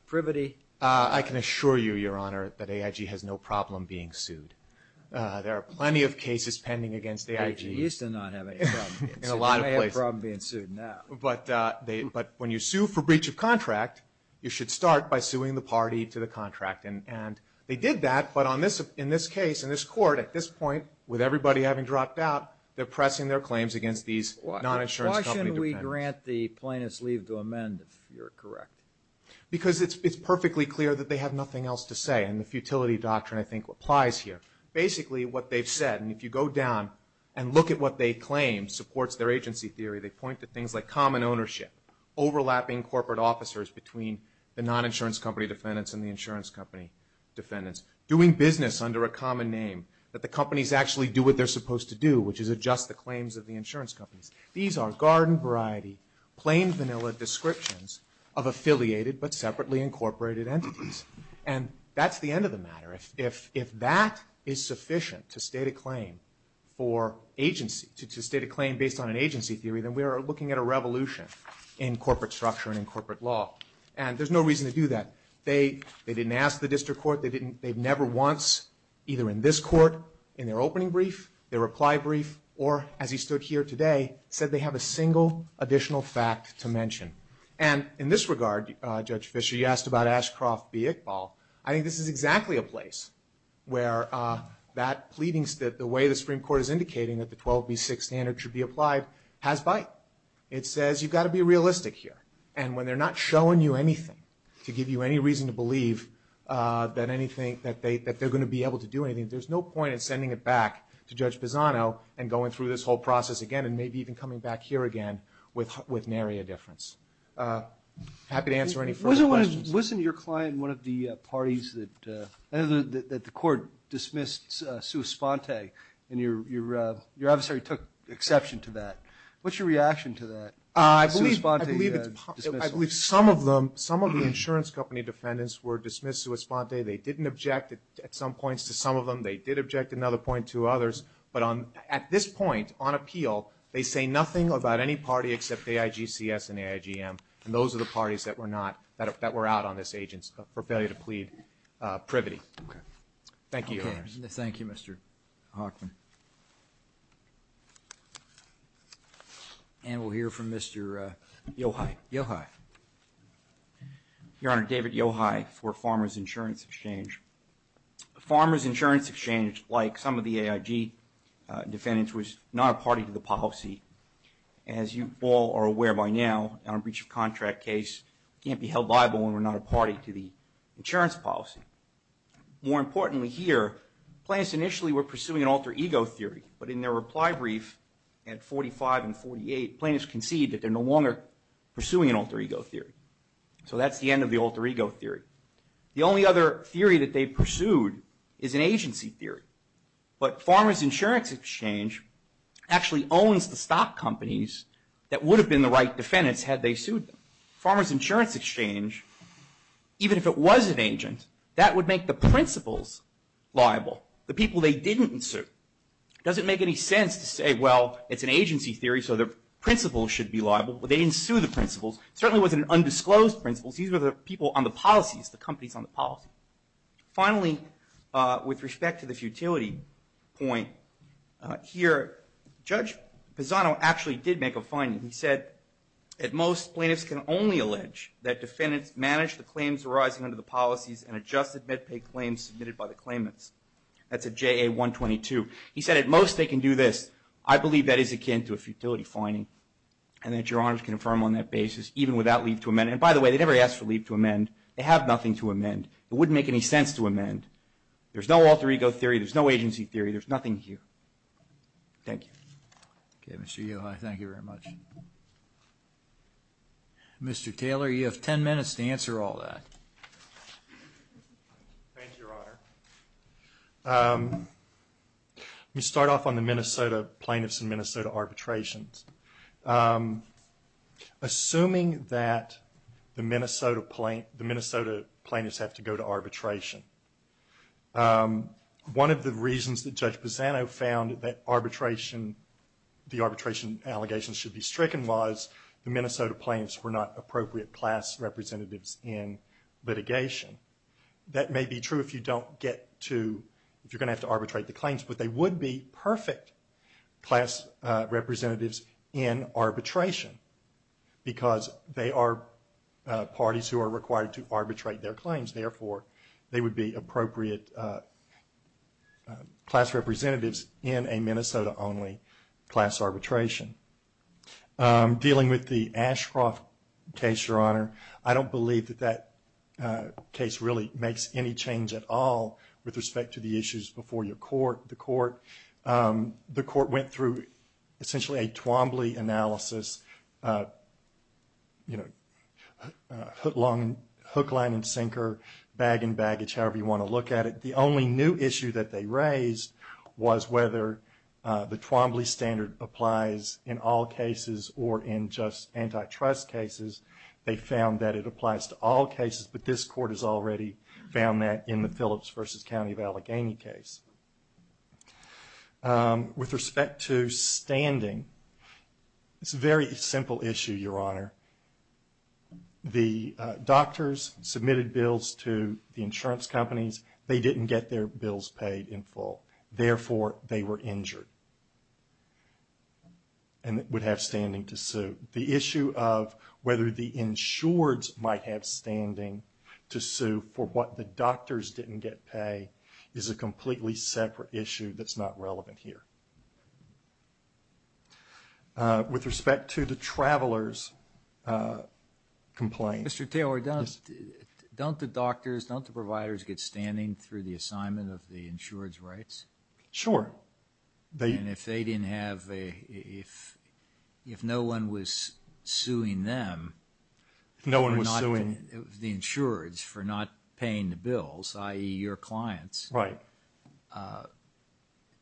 privity. I can assure you, Your Honor, that AIG has no problem being sued. There are plenty of cases pending against AIG. They used to not have any problem being sued. They may have a problem being sued now. But when you sue for breach of contract, you should start by suing the party to the contract, and they did that, but in this case, in this court, at this point, with everybody having dropped out, they're pressing their claims against these non-insurance company defendants. Why shouldn't we grant the plaintiff's leave to amend if you're correct? Because it's perfectly clear that they have nothing else to say, and the futility doctrine, I think, applies here. Basically, what they've said, and if you go down and look at what they claim supports their agency theory, they point to things like common ownership, overlapping corporate officers between the non-insurance company defendants and the insurance company defendants, doing business under a common name, that the companies actually do what they're supposed to do, which is adjust the claims of the insurance companies. These are garden-variety, plain vanilla descriptions of affiliated but separately incorporated entities. And that's the end of the matter. If that is sufficient to state a claim for agency, to state a claim based on an agency theory, then we are looking at a revolution in corporate structure and in corporate law. And there's no reason to do that. They didn't ask the district court. They've never once, either in this court, in their opening brief, their reply brief, or as he stood here today, said they have a single additional fact to mention. And in this regard, Judge Fisher, you asked about Ashcroft v. Iqbal. I think this is exactly a place where that pleading, the way the Supreme Court is indicating that the 12B6 standard should be applied, has bite. It says you've got to be realistic here. And when they're not showing you anything to give you any reason to believe that anything, that they're going to be able to do anything, there's no point in sending it back to Judge Pisano and going through this whole process again and maybe even coming back here again with nary a difference. Happy to answer any further questions. Wasn't your client one of the parties that the court dismissed sua sponte and your adversary took exception to that? What's your reaction to that? I believe some of the insurance company defendants were dismissed sua sponte. They didn't object at some points to some of them. They did object at another point to others. But at this point, on appeal, they say nothing about any party except AIGCS and AIGM, and those are the parties that were out on this agency for failure to plead privity. Okay. Thank you, Your Honors. Thank you, Mr. Hoffman. And we'll hear from Mr. Yochai. Yochai. Your Honor, David Yochai for Farmers Insurance Exchange. Farmers Insurance Exchange, like some of the AIG defendants, was not a party to the policy. As you all are aware by now, on a breach of contract case, we can't be held liable when we're not a party to the insurance policy. More importantly here, plaintiffs initially were pursuing an alter ego theory, but in their reply brief at 45 and 48, plaintiffs concede that they're no longer pursuing an alter ego theory. So that's the end of the alter ego theory. The only other theory that they pursued is an agency theory. But Farmers Insurance Exchange actually owns the stock companies that would have been the right defendants had they sued them. Farmers Insurance Exchange, even if it was an agent, that would make the principals liable, the people they didn't sue. It doesn't make any sense to say, well, it's an agency theory, so the principals should be liable. They didn't sue the principals. It certainly wasn't an undisclosed principals. These were the people on the policies, the companies on the policy. Finally, with respect to the futility point, here Judge Pisano actually did make a finding. He said, at most, plaintiffs can only allege that defendants managed the claims arising under the policies and adjusted mid-pay claims submitted by the claimants. That's at JA-122. He said, at most, they can do this. I believe that is akin to a futility finding, and that Your Honors can affirm on that basis even without leave to amend. And by the way, they never asked for leave to amend. They have nothing to amend. It wouldn't make any sense to amend. There's no alter ego theory. There's no agency theory. There's nothing here. Thank you. Okay, Mr. Yohai, thank you very much. Mr. Taylor, you have ten minutes to answer all that. Thank you, Your Honor. Let me start off on the Minnesota plaintiffs and Minnesota arbitrations. Assuming that the Minnesota plaintiffs have to go to arbitration, one of the reasons that Judge Pisano found that the arbitration allegations should be stricken was the Minnesota plaintiffs were not appropriate class representatives in litigation. That may be true if you don't get to, if you're going to have to arbitrate the claims, but they would be perfect class representatives in arbitration because they are parties who are required to arbitrate their claims. Therefore, they would be appropriate class representatives in a Minnesota-only class arbitration. Dealing with the Ashcroft case, Your Honor, I don't believe that that case really makes any change at all with respect to the issues before the court. The court went through essentially a Twombly analysis, you know, hook, line and sinker, bag and baggage, however you want to look at it. The only new issue that they raised was whether the Twombly standard applies in all cases or in just antitrust cases. They found that it applies to all cases, but this court has already found that in the Phillips v. County of Allegheny case. With respect to standing, it's a very simple issue, Your Honor. The doctors submitted bills to the insurance companies. They didn't get their bills paid in full. Therefore, they were injured and would have standing to sue. The issue of whether the insureds might have standing to sue for what the doctors didn't get paid is a completely separate issue that's not relevant here. With respect to the traveler's complaint... Mr. Taylor, don't the doctors, don't the providers get standing through the assignment of the insured's rights? Sure. And if they didn't have a, if no one was suing them... No one was suing... The insureds for not paying the bills, i.e. your clients... Right.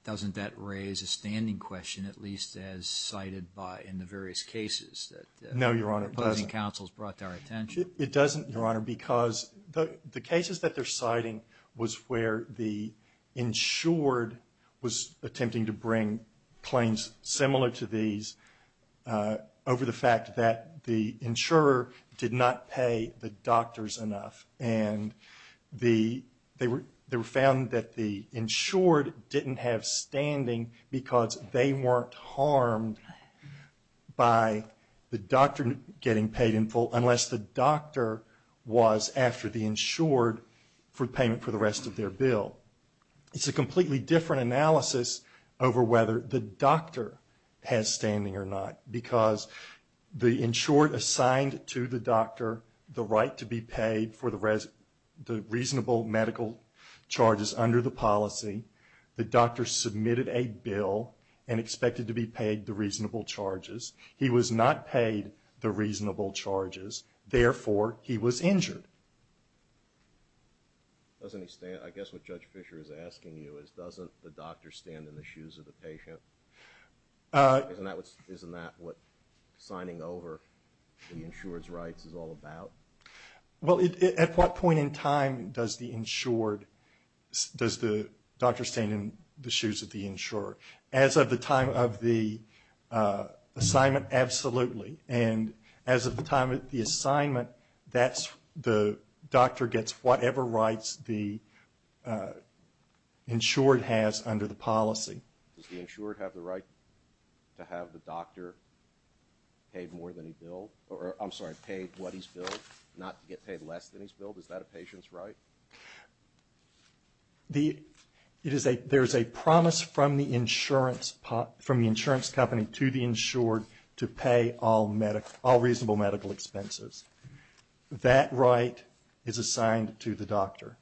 Doesn't that raise a standing question, at least as cited by, in the various cases that... No, Your Honor, it doesn't. ...the opposing counsels brought to our attention? It doesn't, Your Honor, because the cases that they're citing was where the insured was attempting to bring claims similar to these over the fact that the insurer did not pay the doctors enough. And they were found that the insured didn't have standing because they weren't harmed by the doctor getting paid in full after the insured for payment for the rest of their bill. It's a completely different analysis over whether the doctor has standing or not. Because the insured assigned to the doctor the right to be paid for the reasonable medical charges under the policy. The doctor submitted a bill and expected to be paid the reasonable charges. He was not paid the reasonable charges. Therefore, he was injured. I guess what Judge Fischer is asking you is, doesn't the doctor stand in the shoes of the patient? Isn't that what signing over the insurer's rights is all about? Well, at what point in time does the doctor stand in the shoes of the insurer? As of the time of the assignment, absolutely. And as of the time of the assignment, the doctor gets whatever rights the insured has under the policy. Does the insured have the right to have the doctor paid more than he billed? I'm sorry, paid what he's billed, not to get paid less than he's billed? Is that a patient's right? to pay all reasonable medical expenses. That right is assigned to the doctor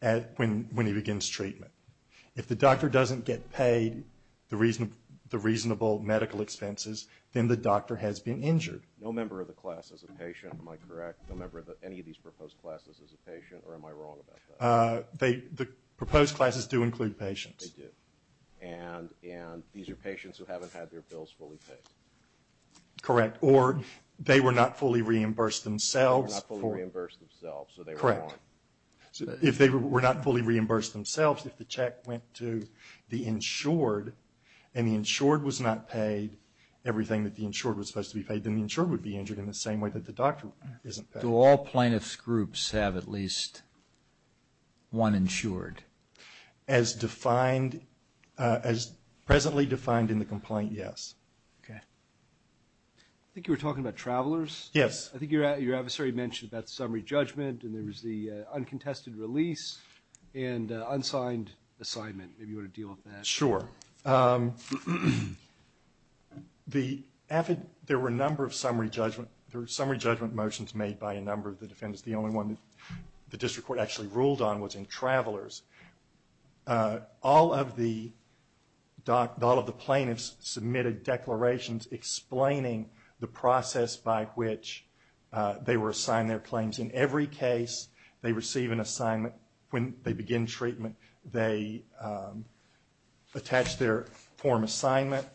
when he begins treatment. If the doctor doesn't get paid the reasonable medical expenses, then the doctor has been injured. No member of the class is a patient, am I correct? No member of any of these proposed classes is a patient, or am I wrong about that? The proposed classes do include patients. They do. And these are patients who haven't had their bills fully paid. Correct. Or they were not fully reimbursed themselves. They were not fully reimbursed themselves. Correct. If they were not fully reimbursed themselves, if the check went to the insured and the insured was not paid everything that the insured was supposed to be paid, then the insured would be injured in the same way that the doctor isn't paid. Do all plaintiffs' groups have at least one insured? As presently defined in the complaint, yes. Okay. I think you were talking about travelers. Yes. I think your adversary mentioned about summary judgment and there was the uncontested release and unsigned assignment. Maybe you want to deal with that? Sure. There were a number of summary judgment motions made by a number of the defendants. The only one that the district court actually ruled on was in travelers. All of the plaintiffs submitted declarations explaining the process by which they were assigned their claims. In every case they receive an assignment when they begin treatment. They attach their form assignment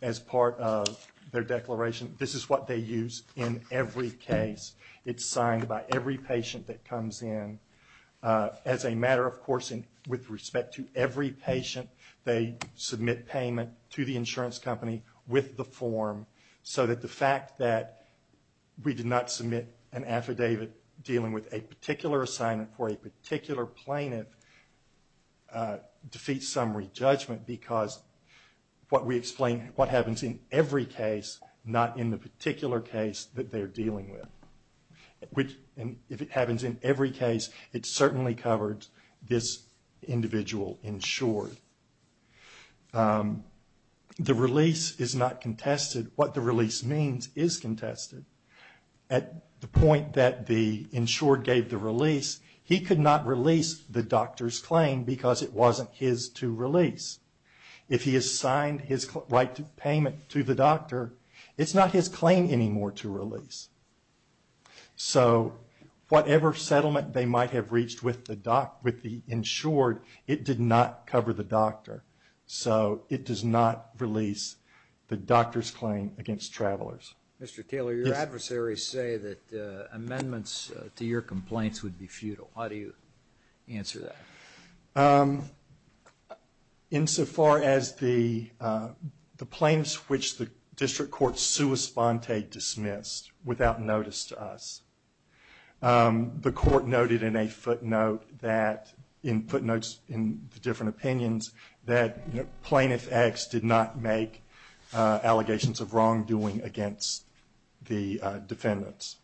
as part of their declaration. This is what they use in every case. It's signed by every patient that comes in. As a matter of course with respect to every patient, they submit payment to the insurance company with the form so that the fact that we did not submit an affidavit dealing with a particular assignment for a particular plaintiff defeats summary judgment because what we explain what happens in every case, not in the particular case that they're dealing with. If it happens in every case, it certainly covered this individual insured. The release is not contested. What the release means is contested. At the point that the insured gave the release, he could not release the doctor's claim because it wasn't his to release. If he has signed his right to payment to the doctor, it's not his claim anymore to release. So whatever settlement they might have reached with the insured, it did not cover the doctor. So it does not release the doctor's claim against travelers. Mr. Taylor, your adversaries say that amendments to your complaints would be futile. How do you answer that? Insofar as the plaintiffs which the district court sui sponte dismissed without notice to us, the court noted in a footnote that in footnotes in the different opinions that Plaintiff X did not make allegations of wrongdoing against the defendants.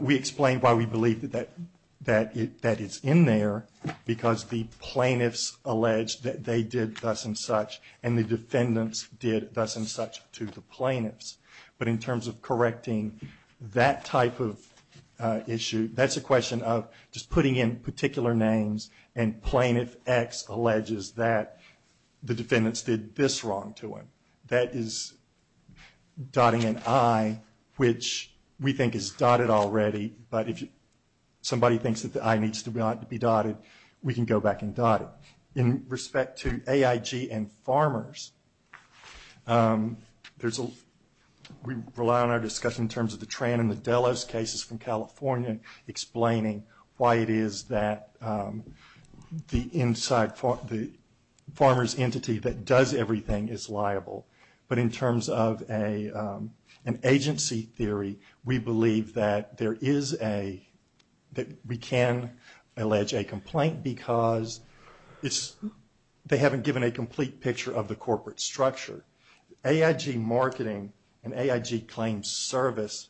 We explained why we believe that it's in there, because the plaintiffs alleged that they did thus and such, and the defendants did thus and such to the plaintiffs. But in terms of correcting that type of issue, that's a question of just putting in particular names, and Plaintiff X alleges that the defendants did this wrong to him. That is dotting an I, which we think is dotted already, but if somebody thinks that the I needs to be dotted, we can go back and dot it. In respect to AIG and farmers, we rely on our discussion in terms of the Tran and the Delos cases from California, and explaining why it is that the farmer's entity that does everything is liable. But in terms of an agency theory, we believe that we can allege a complaint, because they haven't given a complete picture of the corporate structure. AIG Marketing and AIG Claims Service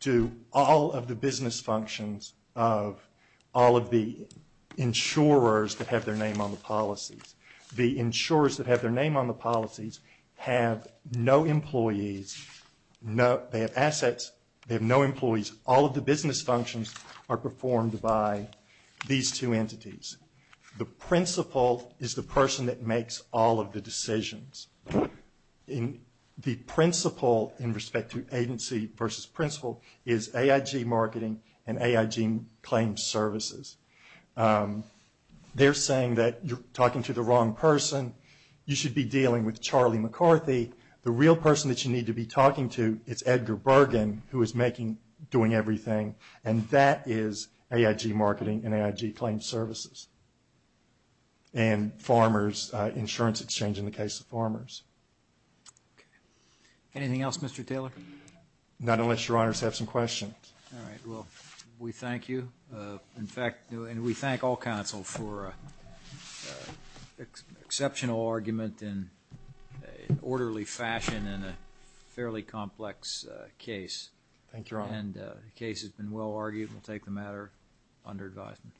do all of the business functions of all of the insurers that have their name on the policies. The insurers that have their name on the policies have no employees, they have assets, they have no employees. All of the business functions are performed by these two entities. The principal is the person that makes all of the decisions. The principal, in respect to agency versus principal, is AIG Marketing and AIG Claims Services. They're saying that you're talking to the wrong person, you should be dealing with Charlie McCarthy. The real person that you need to be talking to is Edgar Bergen, who is doing everything, and that is AIG Marketing and AIG Claims Services. And farmers, insurance exchange in the case of farmers. Anything else, Mr. Taylor? Not unless your honors have some questions. All right, well, we thank you. In fact, we thank all counsel for an exceptional argument in an orderly fashion in a fairly complex case. Thank you, your honor. And the case has been well argued. We'll take the matter under advisement.